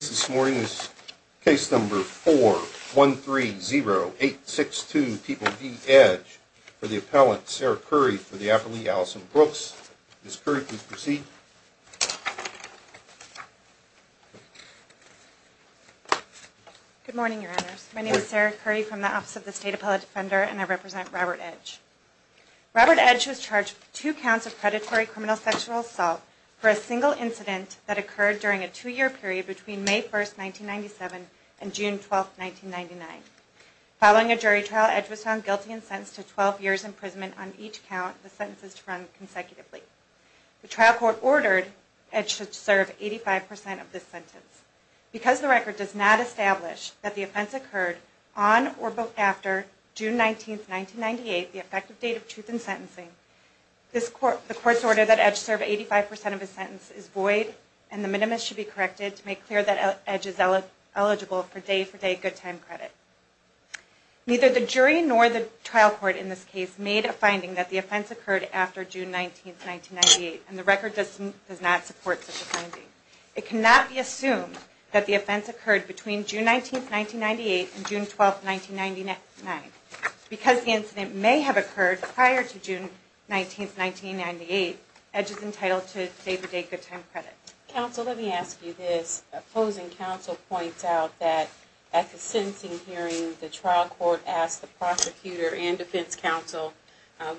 This morning is case number 4130862, People v. Edge, for the appellant, Sarah Curry, for the appellate, Allison Brooks. Ms. Curry, please proceed. Good morning, your honors. My name is Sarah Curry from the Office of the State Appellate Defender, and I represent Robert Edge. Robert Edge was charged with two counts of predatory criminal sexual assault for a single incident that occurred during a two-year period between May 1, 1997 and June 12, 1999. Following a jury trial, Edge was found guilty and sentenced to 12 years' imprisonment on each count of the sentences run consecutively. The trial court ordered Edge to serve 85% of this sentence. Because the record does not establish that the offense occurred on or after June 19, 1998, the effective date of truth in sentencing, the court's order that Edge serve 85% of his sentence is void and the minimus should be corrected to make clear that Edge is eligible for day-for-day good time credit. Neither the jury nor the trial court in this case made a finding that the offense occurred after June 19, 1998, and the record does not support such a finding. It cannot be assumed that the offense occurred between June 19, 1998 and June 12, 1999. Because the incident may have occurred prior to June 19, 1998, Edge is entitled to day-for-day good time credit. Counsel, let me ask you this. Opposing counsel points out that at the sentencing hearing, the trial court asked the prosecutor and defense counsel,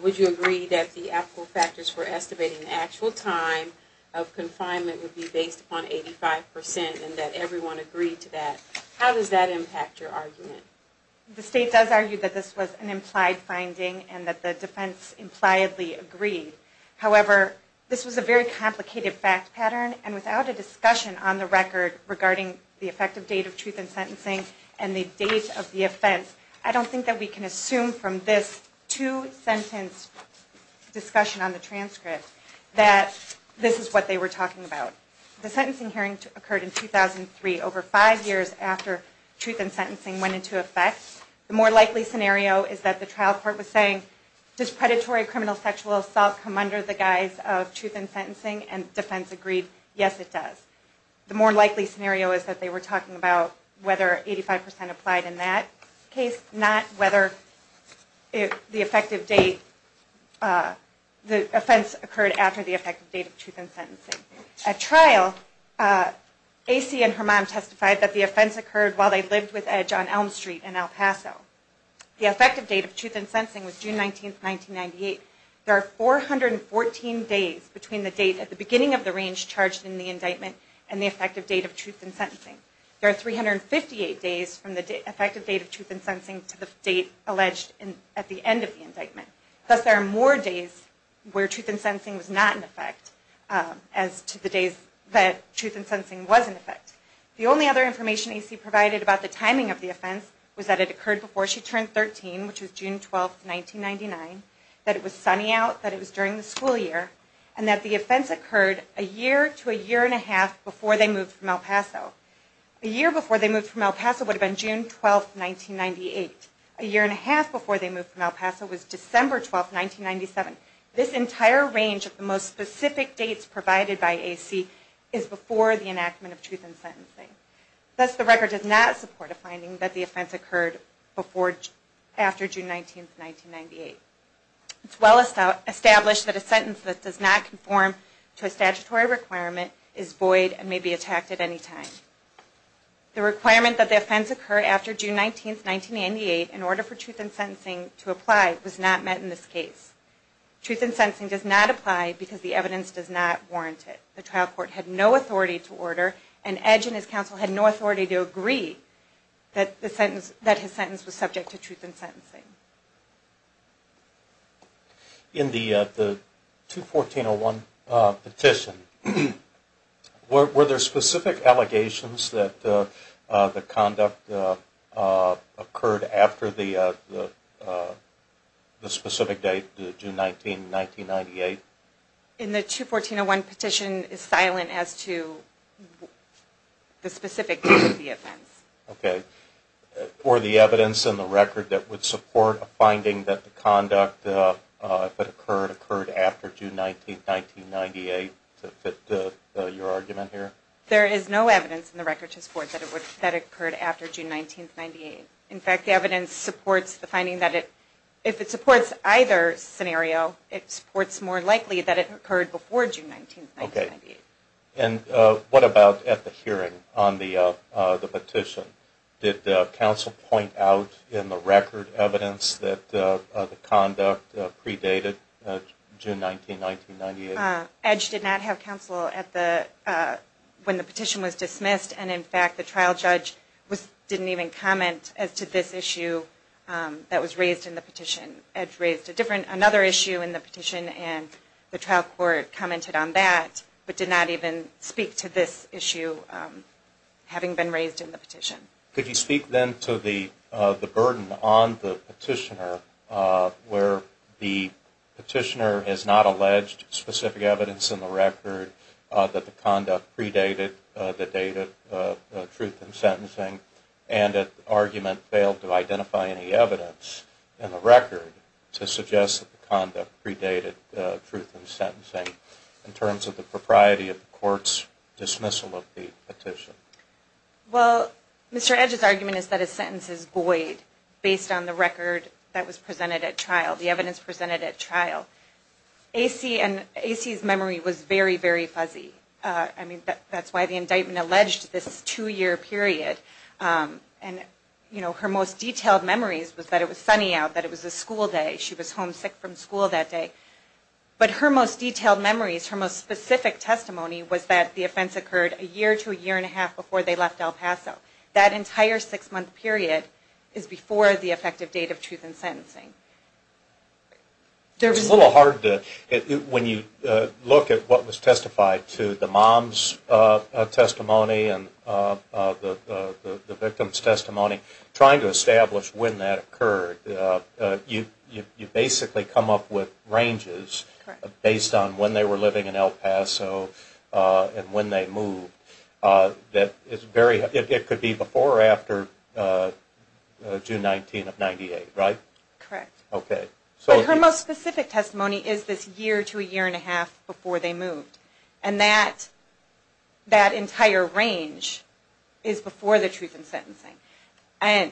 would you agree that the applicable factors for estimating the actual time of confinement would be based upon 85% and that everyone agreed to that? How does that impact your argument? The state does argue that this was an implied finding and that the defense impliedly agreed. However, this was a very complicated fact pattern and without a discussion on the record regarding the effective date of truth in sentencing and the date of the offense, I don't think that we can assume from this two-sentence discussion on the transcript that this is what they were talking about. The sentencing hearing occurred in 2003, over five years after truth in sentencing went into effect. The more likely scenario is that the trial court was saying, does predatory criminal sexual assault come under the guise of truth in sentencing? And defense agreed, yes, it does. The more likely scenario is that they were talking about whether 85% applied in that case, not whether the offense occurred after the effective date of truth in sentencing. At trial, A.C. and her mom testified that the offense occurred while they lived with Edge on Elm Street in El Paso. The effective date of truth in sentencing was June 19, 1998. There are 414 days between the date at the beginning of the range charged in the indictment and the effective date of truth in sentencing. There are 358 days from the effective date of truth in sentencing to the date alleged at the end of the indictment. Thus, there are more days where truth in sentencing was not in effect as to the days that truth in sentencing was in effect. The only other information A.C. provided about the timing of the offense was that it occurred before she turned 13, which was June 12, 1999, that it was sunny out, that it was during the school year, and that the offense occurred a year to a year and a half before they moved from El Paso. A year before they moved from El Paso would have been June 12, 1998. A year and a half before they moved from El Paso was December 12, 1997. This entire range of the most specific dates provided by A.C. is before the does not conform to a statutory requirement is void and may be attacked at any time. The requirement that the offense occur after June 19, 1998 in order for truth in sentencing to apply was not met in this case. Truth in sentencing does not apply because the evidence does not warrant it. The trial court had no authority to order and Edge and his counsel had no authority to agree that his sentence was subject to truth in sentencing. In the 214.01 petition, were there specific allegations that the conduct occurred after the specific date, June 19, 1998? In the 214.01 petition is silent as to the specific date of the offense. For the evidence and the record that would support a finding that the conduct occurred after June 19, 1998 to fit your argument here? There is no evidence in the record to support that it occurred after June 19, 1998. In fact, the evidence supports the finding that if it supports either scenario, it supports more likely that it occurred before June 19, 1998. And what about at the hearing on the petition? Did counsel point out in the record evidence that the conduct predated June 19, 1998? Edge did not have counsel when the petition was dismissed and in fact the trial judge didn't even comment as to this issue that was raised in the petition. Edge raised another issue in the petition and the trial court commented on that but did not even speak to this issue having been raised in the petition. Could you speak then to the burden on the petitioner where the petitioner has not alleged specific evidence in the record that the conduct predated the date of the truth in sentencing and that the argument failed to identify any evidence in the record to suggest that the conduct predated truth in sentencing in terms of the propriety of the court's dismissal of the petition? Well, Mr. Edge's argument is that his sentence is void based on the record that was presented at trial, the evidence presented at trial. A.C.'s memory was very, very fuzzy. I mean, that's why the indictment alleged this two-year period. And, you know, her most detailed memories was that it was sunny out, that it was a school day, she was home sick from school that day. But her most detailed memories, her most specific testimony was that the offense occurred a year to a year and a half before they left El Paso. That entire six-month period is before the effective date of truth in sentencing. It's a little hard to, when you look at what was testified to, the mom's testimony and the victim's testimony, trying to establish when that occurred, you basically come up with ranges based on when they were living in El Paso and when they moved. It could be before or after June 19 of 1998, right? Correct. Okay. But her most specific testimony is this year to a year and a half before they moved. And that entire range is before the truth in sentencing. And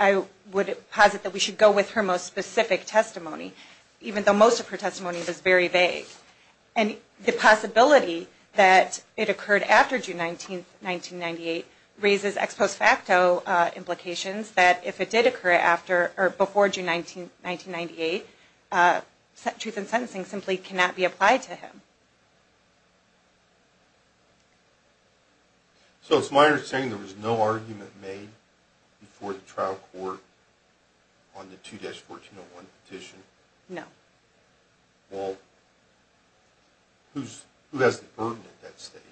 I would posit that we should go with her most specific testimony, even though most of her testimony was very vague. And the possibility that it occurred after June 19, 1998, raises ex post facto implications that if it did occur after or before June 19, 1998, truth in sentencing simply cannot be applied to him. So it's my understanding there was no argument made before the trial court on the 2-1401 petition? No. Well, who has the burden at that stage?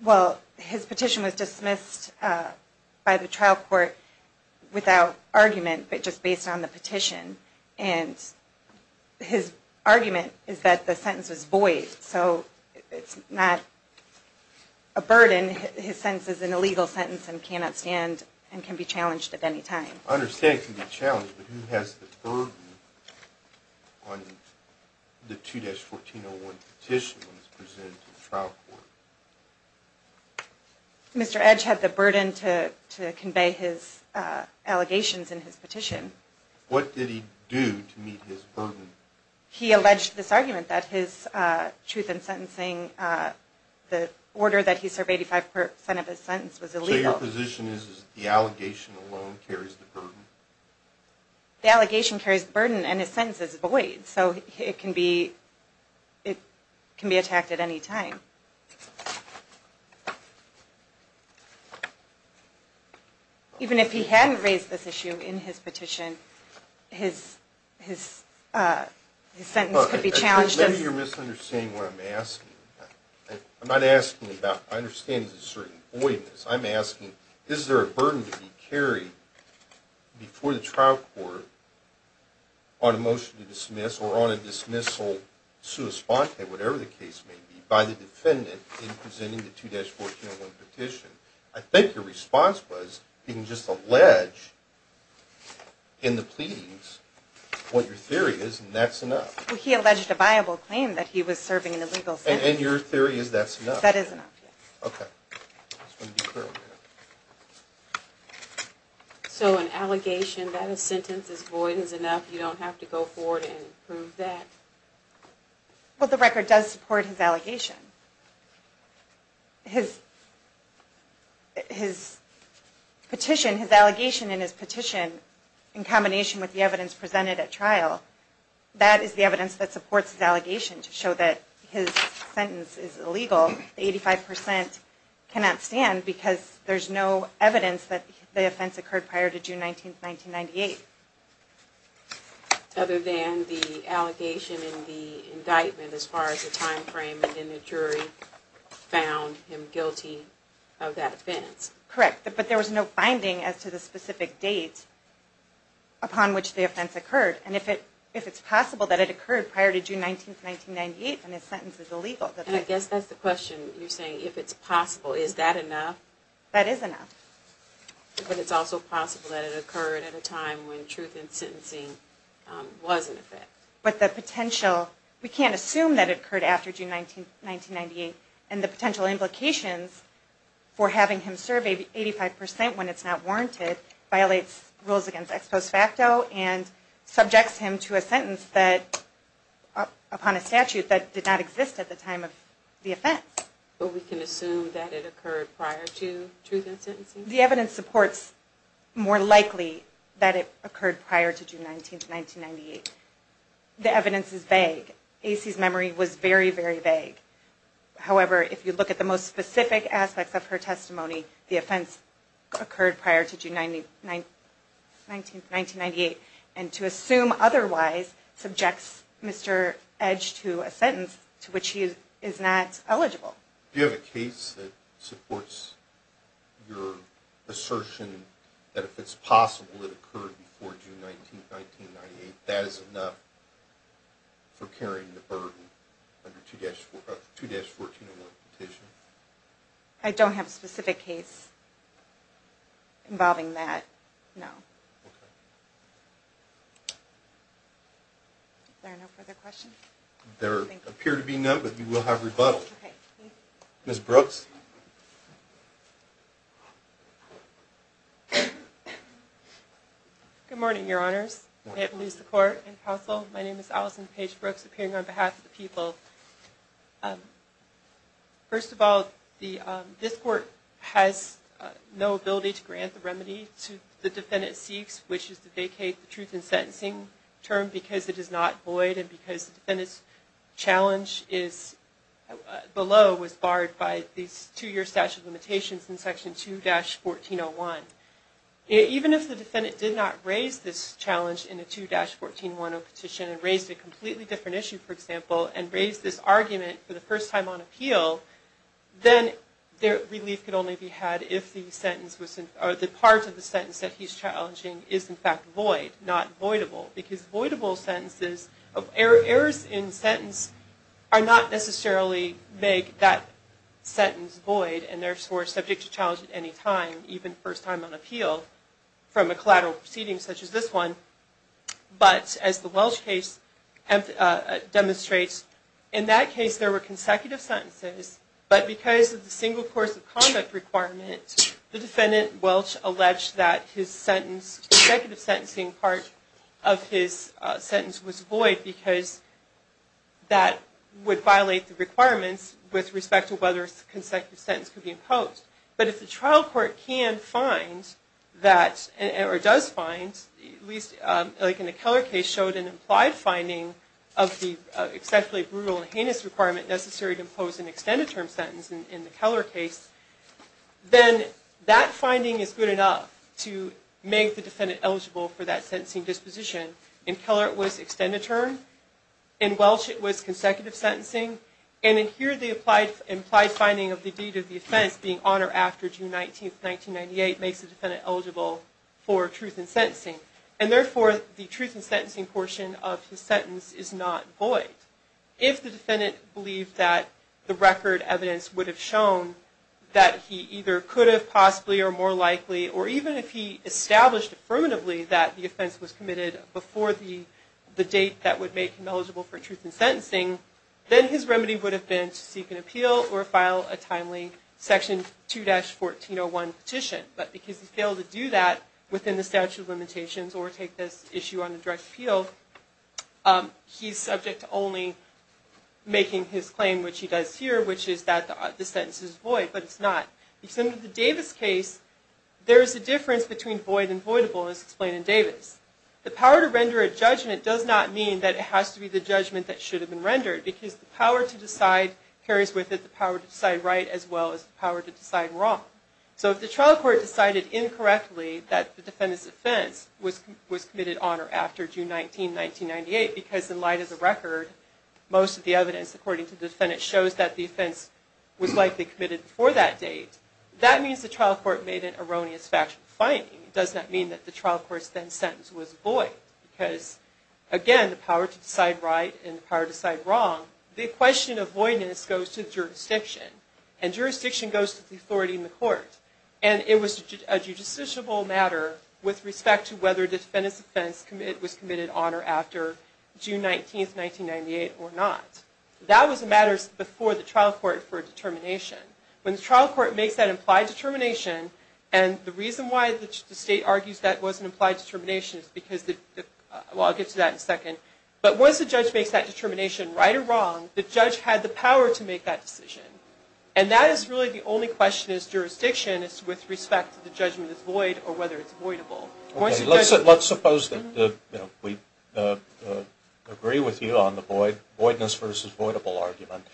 Well, his petition was dismissed by the trial court without argument, but just based on the petition. And his argument is that the sentence is void, so it's not a burden. His sentence is an illegal sentence and cannot stand and can be challenged at any time. I understand it can be challenged, but who has the burden on the 2-1401 petition when it's presented to the trial court? Mr. Edge had the burden to convey his allegations in his petition. What did he do to meet his burden? He alleged this argument that his truth in sentencing, the order that he served 85 percent of his sentence was illegal. So your position is that the allegation alone carries the burden? The allegation carries the burden and his sentence is void, so it can be attacked at any time. Even if he hadn't raised this issue in his petition, his sentence could be challenged. Maybe you're misunderstanding what I'm asking. I'm not asking about, I understand it's a certain voidness. I'm asking, is there a burden to be carried before the trial court on a motion to dismiss or on a dismissal sua sponte, whatever the case may be, by the defendant in presenting the 2-1401 petition? I think your response was he can just allege in the pleadings what your theory is and that's enough. He alleged a viable claim that he was serving an illegal sentence. And your theory is that's enough? That is enough. So an allegation, that a sentence is void is enough, you don't have to go forward and prove that? Well, the record does support his allegation. His petition, his allegation in his petition, in combination with the evidence presented at trial, that is the evidence that supports his allegation to show that his sentence is illegal. The 85% cannot stand because there's no evidence that the offense occurred prior to June 19, 1998. Other than the allegation in the indictment as far as the time frame in which the jury found him guilty of that offense. Correct, but there was no finding as to the specific date upon which the offense occurred. And if it's possible that it occurred prior to June 19, 1998, then his sentence is illegal. And I guess that's the question you're saying, if it's possible, is that enough? That is enough. But it's also possible that it occurred at a time when truth in sentencing was in effect. But the potential, we can't assume that it occurred after June 19, 1998, and the potential implications for having him serve 85% when it's not warranted violates rules against ex post facto and subjects him to a sentence that, upon a statute that did not exist at the time of the offense. But we can assume that it occurred prior to truth in sentencing? The evidence supports more likely that it occurred prior to June 19, 1998. The evidence is vague. A.C.'s memory was very, very vague. However, if you look at the most specific aspects of her testimony, the offense occurred prior to June 19, 1998. And to assume otherwise subjects Mr. Edge to a sentence to which he is not eligible. Do you have a case that supports your assertion that if it's possible it occurred before June 19, 1998, that is enough for carrying the burden under 2-1401 petition? I don't have a specific case involving that, no. Okay. Are there no further questions? There appear to be none, but we will have rebuttal. Okay, thank you. Ms. Brooks? Good morning, Your Honors. I have police support and counsel. My name is Allison Paige Brooks, appearing on behalf of the people. First of all, this court has no ability to grant the remedy to the defendant seeks, which is to vacate the truth in sentencing term because it is not void and because the defendant's challenge below was barred by these two-year statute limitations in section 2-1401. Even if the defendant did not raise this challenge in the 2-1401 petition and raised a completely different issue, for example, and raised this argument for the first time on appeal, then relief could only be had if the part of the sentence that he's challenging is in fact void, not voidable. Because voidable sentences, errors in sentence are not necessarily make that sentence void and therefore are subject to challenge at any time, even first time on appeal, from a collateral proceeding such as this one. But as the Welch case demonstrates, in that case there were consecutive sentences, but because of the single course of conduct requirement, the defendant, Welch, alleged that his sentence, consecutive sentencing part of his sentence was void because that would violate the requirements with respect to whether consecutive sentence could be imposed. But if the trial court can find that, or does find, at least like in the Keller case, showed an implied finding of the exceptionally brutal and heinous requirement necessary to impose an extended term sentence in the Keller case, then that finding is good enough to make the defendant eligible for that sentencing disposition. In Keller it was extended term, in Welch it was consecutive sentencing, and in here the implied finding of the deed of the offense being on or after June 19, 1998 makes the defendant eligible for truth in sentencing. And therefore the truth in sentencing portion of his sentence is not void. If the defendant believed that the record evidence would have shown that he either could have possibly or more likely, or even if he established affirmatively that the offense was committed before the date that would make him eligible for truth in sentencing, then his remedy would have been to seek an appeal or file a timely Section 2-1401 petition. But because he failed to do that within the statute of limitations or take this issue on a direct appeal, he's subject to only making his claim, which he does here, which is that the sentence is void, but it's not. In the Davis case, there is a difference between void and voidable, as explained in Davis. The power to render a judgment does not mean that it has to be the judgment that should have been rendered, because the power to decide carries with it the power to decide right as well as the power to decide wrong. So if the trial court decided incorrectly that the defendant's offense was committed on or after June 19, 1998, because in light of the record, most of the evidence according to the defendant shows that the offense was likely committed before that date, that means the trial court made an erroneous factual finding. It does not mean that the trial court's then sentence was void, because again, the power to decide right and the power to decide wrong. The question of voidness goes to the jurisdiction, and jurisdiction goes to the authority in the court. And it was a judicial matter with respect to whether the defendant's offense was committed on or after June 19, 1998 or not. That was a matter before the trial court for determination. When the trial court makes that implied determination, and the reason why the state argues that was an implied determination is because, well, I'll get to that in a second, but once the judge makes that determination, right or wrong, the judge had the power to make that decision. And that is really the only question as jurisdiction is with respect to the judgment is void or whether it's voidable. Let's suppose that we agree with you on the voidness versus voidable argument.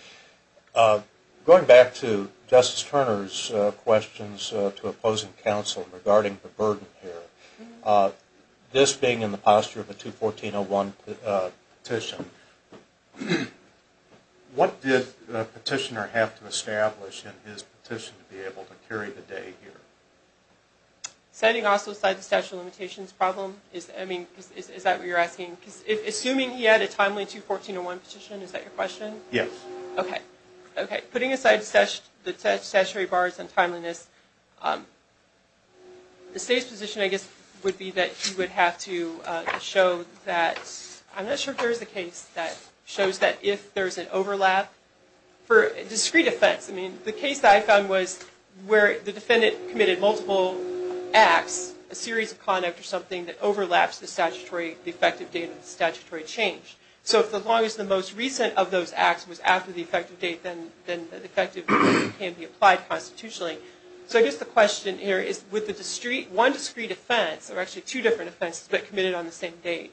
Going back to Justice Turner's questions to opposing counsel regarding the burden here, this being in the posture of a 214.01 petition, what did the petitioner have to establish in his petition to be able to carry the day here? Setting aside the statute of limitations problem, is that what you're asking? Assuming he had a timely 214.01 petition, is that your question? Yes. Okay. Putting aside the statutory bars and timeliness, the state's position, I guess, would be that he would have to show that, I'm not sure if there is a case that shows that if there is an overlap for discrete offense. The case that I found was where the defendant committed multiple acts, a series of conduct or something that overlaps the effective date of the statutory change. So as long as the most recent of those acts was after the effective date, then the effective date can be applied constitutionally. So I guess the question here is, with one discrete offense, or actually two different offenses but committed on the same date,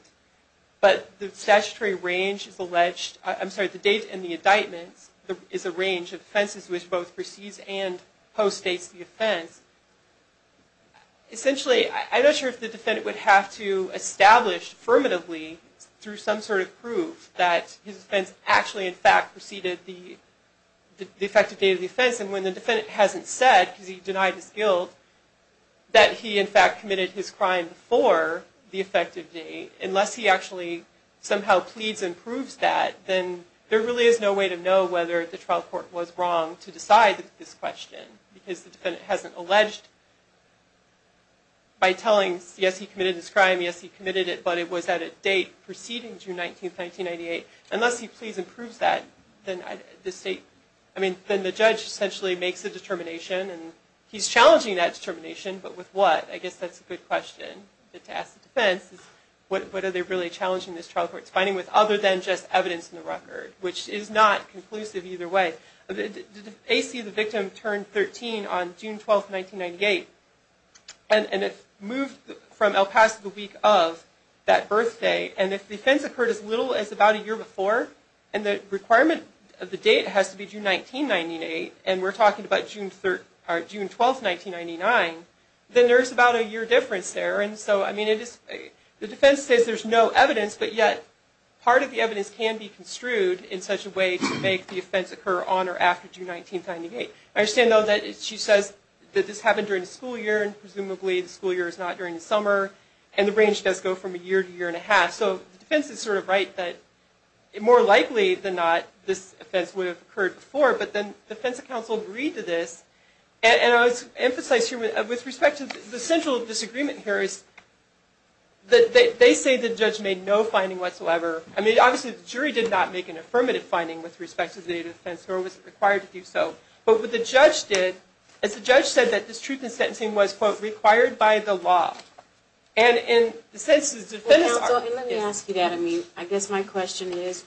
but the statutory range is alleged, I'm sorry, the date and the indictments, is a range of offenses which both precedes and postdates the offense. Essentially, I'm not sure if the defendant would have to establish affirmatively through some sort of proof that his offense actually, in fact, preceded the effective date of the offense. And when the defendant hasn't said, because he denied his guilt, that he, in fact, committed his crime before the effective date, unless he actually somehow pleads and proves that, then there really is no way to know whether the trial court was wrong to decide this question. Because the defendant hasn't alleged by telling, yes, he committed this crime, yes, he committed it, but it was at a date preceding June 19, 1998. Unless he pleads and proves that, then the judge essentially makes a determination, and he's challenging that determination, but with what? I guess that's a good question to ask the defense. What are they really challenging this trial court's finding with, other than just evidence in the record, which is not conclusive either way. The AC of the victim turned 13 on June 12, 1998, and it moved from El Paso the week of that birthday. And if the offense occurred as little as about a year before, and the requirement of the date has to be June 19, 1998, and we're talking about June 12, 1999, then there's about a year difference there. And so, I mean, the defense says there's no evidence, but yet part of the evidence can be construed in such a way to make the offense occur on or after June 19, 1998. I understand, though, that she says that this happened during the school year, and presumably the school year is not during the summer, and the range does go from a year to a year and a half. So the defense is sort of right that, more likely than not, this offense would have occurred before, but then the defense counsel agreed to this. And I would emphasize here, with respect to the central disagreement here, is that they say the judge made no finding whatsoever. I mean, obviously, the jury did not make an affirmative finding with respect to the date of the offense, nor was it required to do so. But what the judge did, is the judge said that this truth in sentencing was, quote, required by the law. And in the sense that the defense counsel... Well, counsel, let me ask you that. I mean, I guess my question is,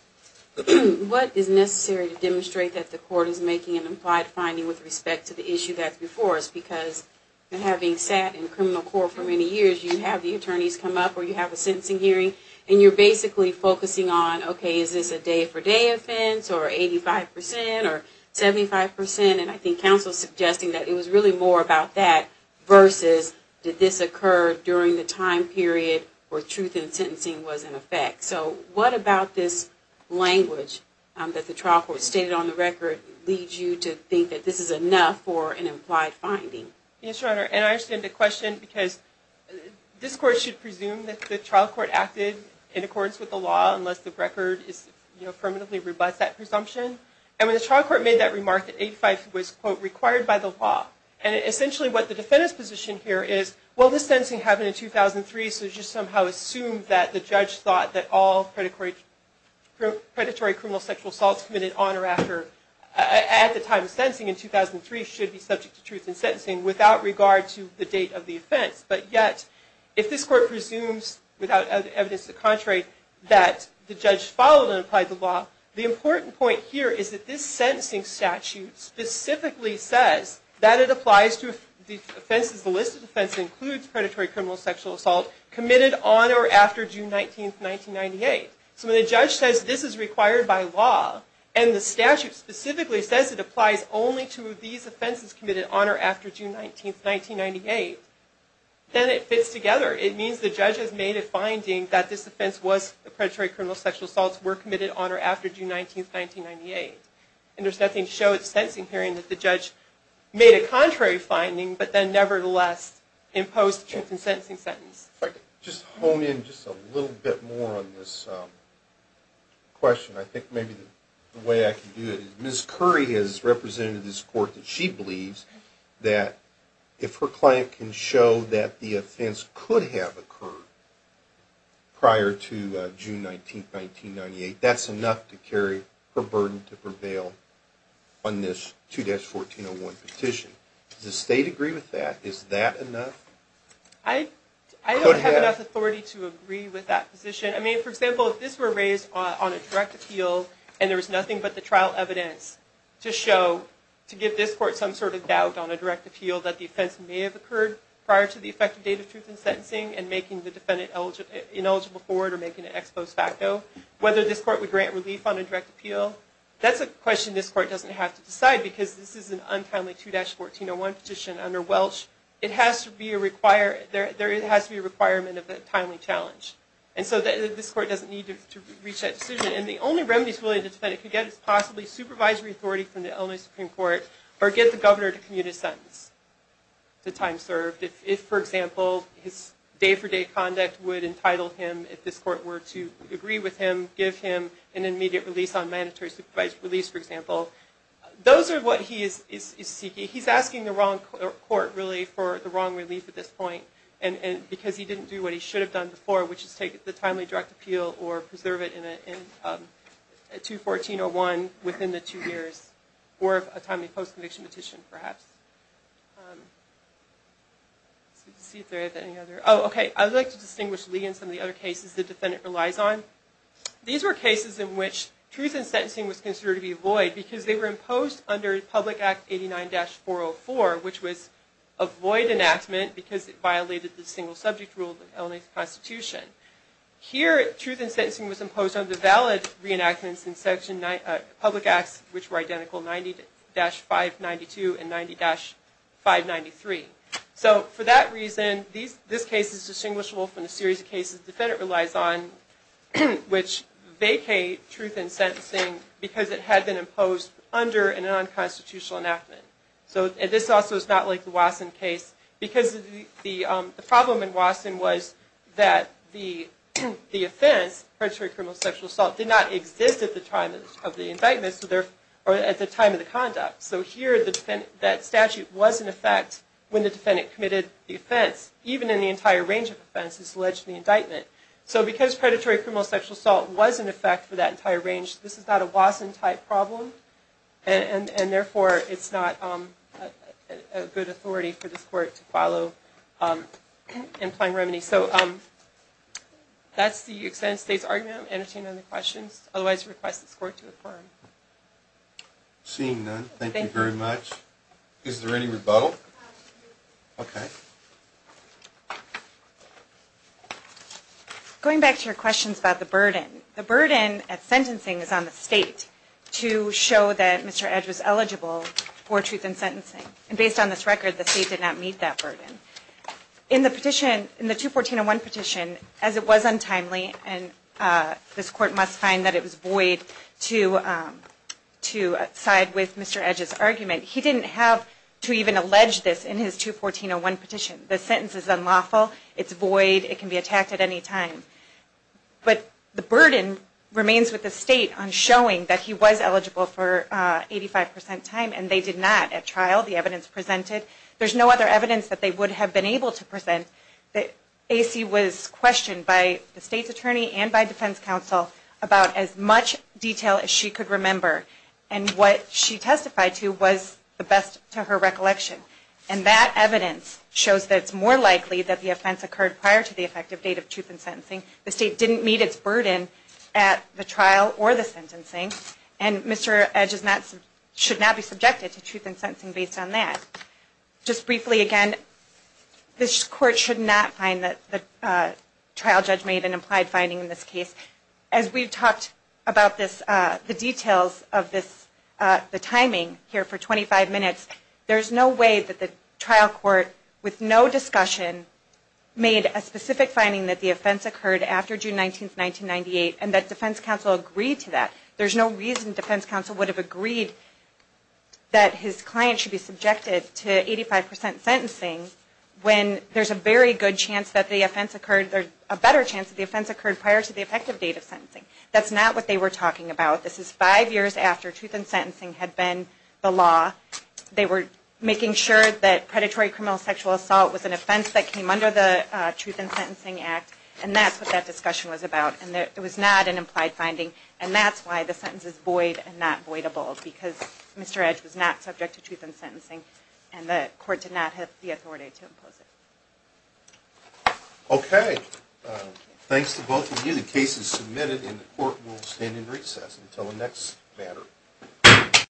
what is necessary to demonstrate that the court is making an implied finding with respect to the issue that's before us? Because having sat in criminal court for many years, you have the attorneys come up, or you have a sentencing hearing, and you're basically focusing on, okay, is this a day-for-day offense, or 85 percent, or 75 percent? And I think counsel is suggesting that it was really more about that versus did this occur during the time period where truth in sentencing was in effect. So what about this language that the trial court stated on the record leads you to think that this is enough for an implied finding? Yes, Your Honor, and I understand the question, because this court should presume that the trial court acted in accordance with the law unless the record affirmatively rebuts that presumption. And when the trial court made that remark that 85 was, quote, required by the law, and essentially what the defendant's position here is, well, this sentencing happened in 2003, so it's just somehow assumed that the judge thought that all predatory criminal sexual assaults committed on or after, at the time of sentencing in 2003, should be subject to truth in sentencing without regard to the date of the offense. But yet, if this court presumes, without evidence to the contrary, that the judge followed and applied the law, the important point here is that this sentencing statute specifically says that it applies to the offenses, the list of offenses that includes predatory criminal sexual assault committed on or after June 19, 1998. So when the judge says this is required by law, and the statute specifically says it applies only to these offenses committed on or after June 19, 1998, then it fits together. It means the judge has made a finding that this offense was, the predatory criminal sexual assaults were committed on or after June 19, 1998. And there's nothing to show at the sentencing hearing that the judge made a contrary finding, but then nevertheless imposed the truth in sentencing sentence. If I could just hone in just a little bit more on this question, I think maybe the way I can do it is, Ms. Curry has represented this court that she believes that if her client can show that the offense could have occurred prior to June 19, 1998, that's enough to carry her burden to prevail on this 2-1401 petition. Does the state agree with that? Is that enough? I don't have enough authority to agree with that position. I mean, for example, if this were raised on a direct appeal and there was nothing but the trial evidence to show, to give this court some sort of doubt on a direct appeal, that the offense may have occurred prior to the effective date of truth in sentencing and making the defendant ineligible for it or making it ex post facto, whether this court would grant relief on a direct appeal, that's a question this court doesn't have to decide because this is an untimely 2-1401 petition under Welch. It has to be a requirement of a timely challenge. And so this court doesn't need to reach that decision. And the only remedies this defendant could get is possibly supervisory authority from the Illinois Supreme Court or get the governor to commute a sentence to time served if, for example, his day-for-day conduct would entitle him, if this court were to agree with him, give him an immediate release on mandatory supervised release, for example. Those are what he is seeking. He's asking the wrong court, really, for the wrong relief at this point because he didn't do what he should have done before, which is take the timely direct appeal or preserve it in a 2-1401 within the two years or a timely post-conviction petition, perhaps. Let's see if there is any other. Oh, okay. I would like to distinguish, Lee, in some of the other cases the defendant relies on. These were cases in which truth in sentencing was considered to be void because they were imposed under Public Act 89-404, which was a void enactment because it violated the single subject rule of the Illinois Constitution. Here, truth in sentencing was imposed under valid reenactments in Public Acts, which were identical 90-592 and 90-593. So for that reason, this case is distinguishable from the series of cases the defendant relies on, which vacate truth in sentencing because it had been imposed under a non-constitutional enactment. So this also is not like the Wasson case because the problem in Wasson was that the offense, predatory criminal sexual assault, did not exist at the time of the indictment or at the time of the conduct. So here that statute was in effect when the defendant committed the offense, even in the entire range of offenses alleged in the indictment. So because predatory criminal sexual assault was in effect for that entire range, this is not a Wasson-type problem, and therefore it's not a good authority for this Court to follow in plain remedy. So that's the extent of today's argument. I'm going to entertain any questions. Otherwise, I request this Court to affirm. Seeing none, thank you very much. Is there any rebuttal? Okay. Going back to your questions about the burden, the burden at sentencing is on the State to show that Mr. Edge was eligible for truth in sentencing. And based on this record, the State did not meet that burden. In the petition, in the 214-01 petition, as it was untimely, and this Court must find that it was void to side with Mr. Edge's argument, he didn't have to even allege this in his 214-01 petition. The sentence is unlawful. It's void. It can be attacked at any time. But the burden remains with the State on showing that he was eligible for 85 percent time, and they did not at trial, the evidence presented. There's no other evidence that they would have been able to present. AC was questioned by the State's attorney and by defense counsel about as much detail as she could remember. And what she testified to was the best to her recollection. And that evidence shows that it's more likely that the offense occurred prior to the effective date of truth in sentencing. The State didn't meet its burden at the trial or the sentencing, and Mr. Edge should not be subjected to truth in sentencing based on that. Just briefly again, this Court should not find that the trial judge made an implied finding in this case. As we've talked about this, the details of this, the timing here for 25 minutes, there's no way that the trial court with no discussion made a specific finding that the offense occurred after June 19, 1998, and that defense counsel agreed to that. There's no reason defense counsel would have agreed that his client should be subjected to 85 percent sentencing when there's a very good chance that the offense occurred, a better chance that the offense occurred prior to the effective date of sentencing. That's not what they were talking about. This is five years after truth in sentencing had been the law. They were making sure that predatory criminal sexual assault was an offense that came under the Truth in Sentencing Act, and that's what that discussion was about. And it was not an implied finding, and that's why the sentence is void and not voidable, because Mr. Edge was not subject to truth in sentencing, and the Court did not have the authority to impose it. Okay, thanks to both of you. The case is submitted, and the Court will stand in recess until the next matter.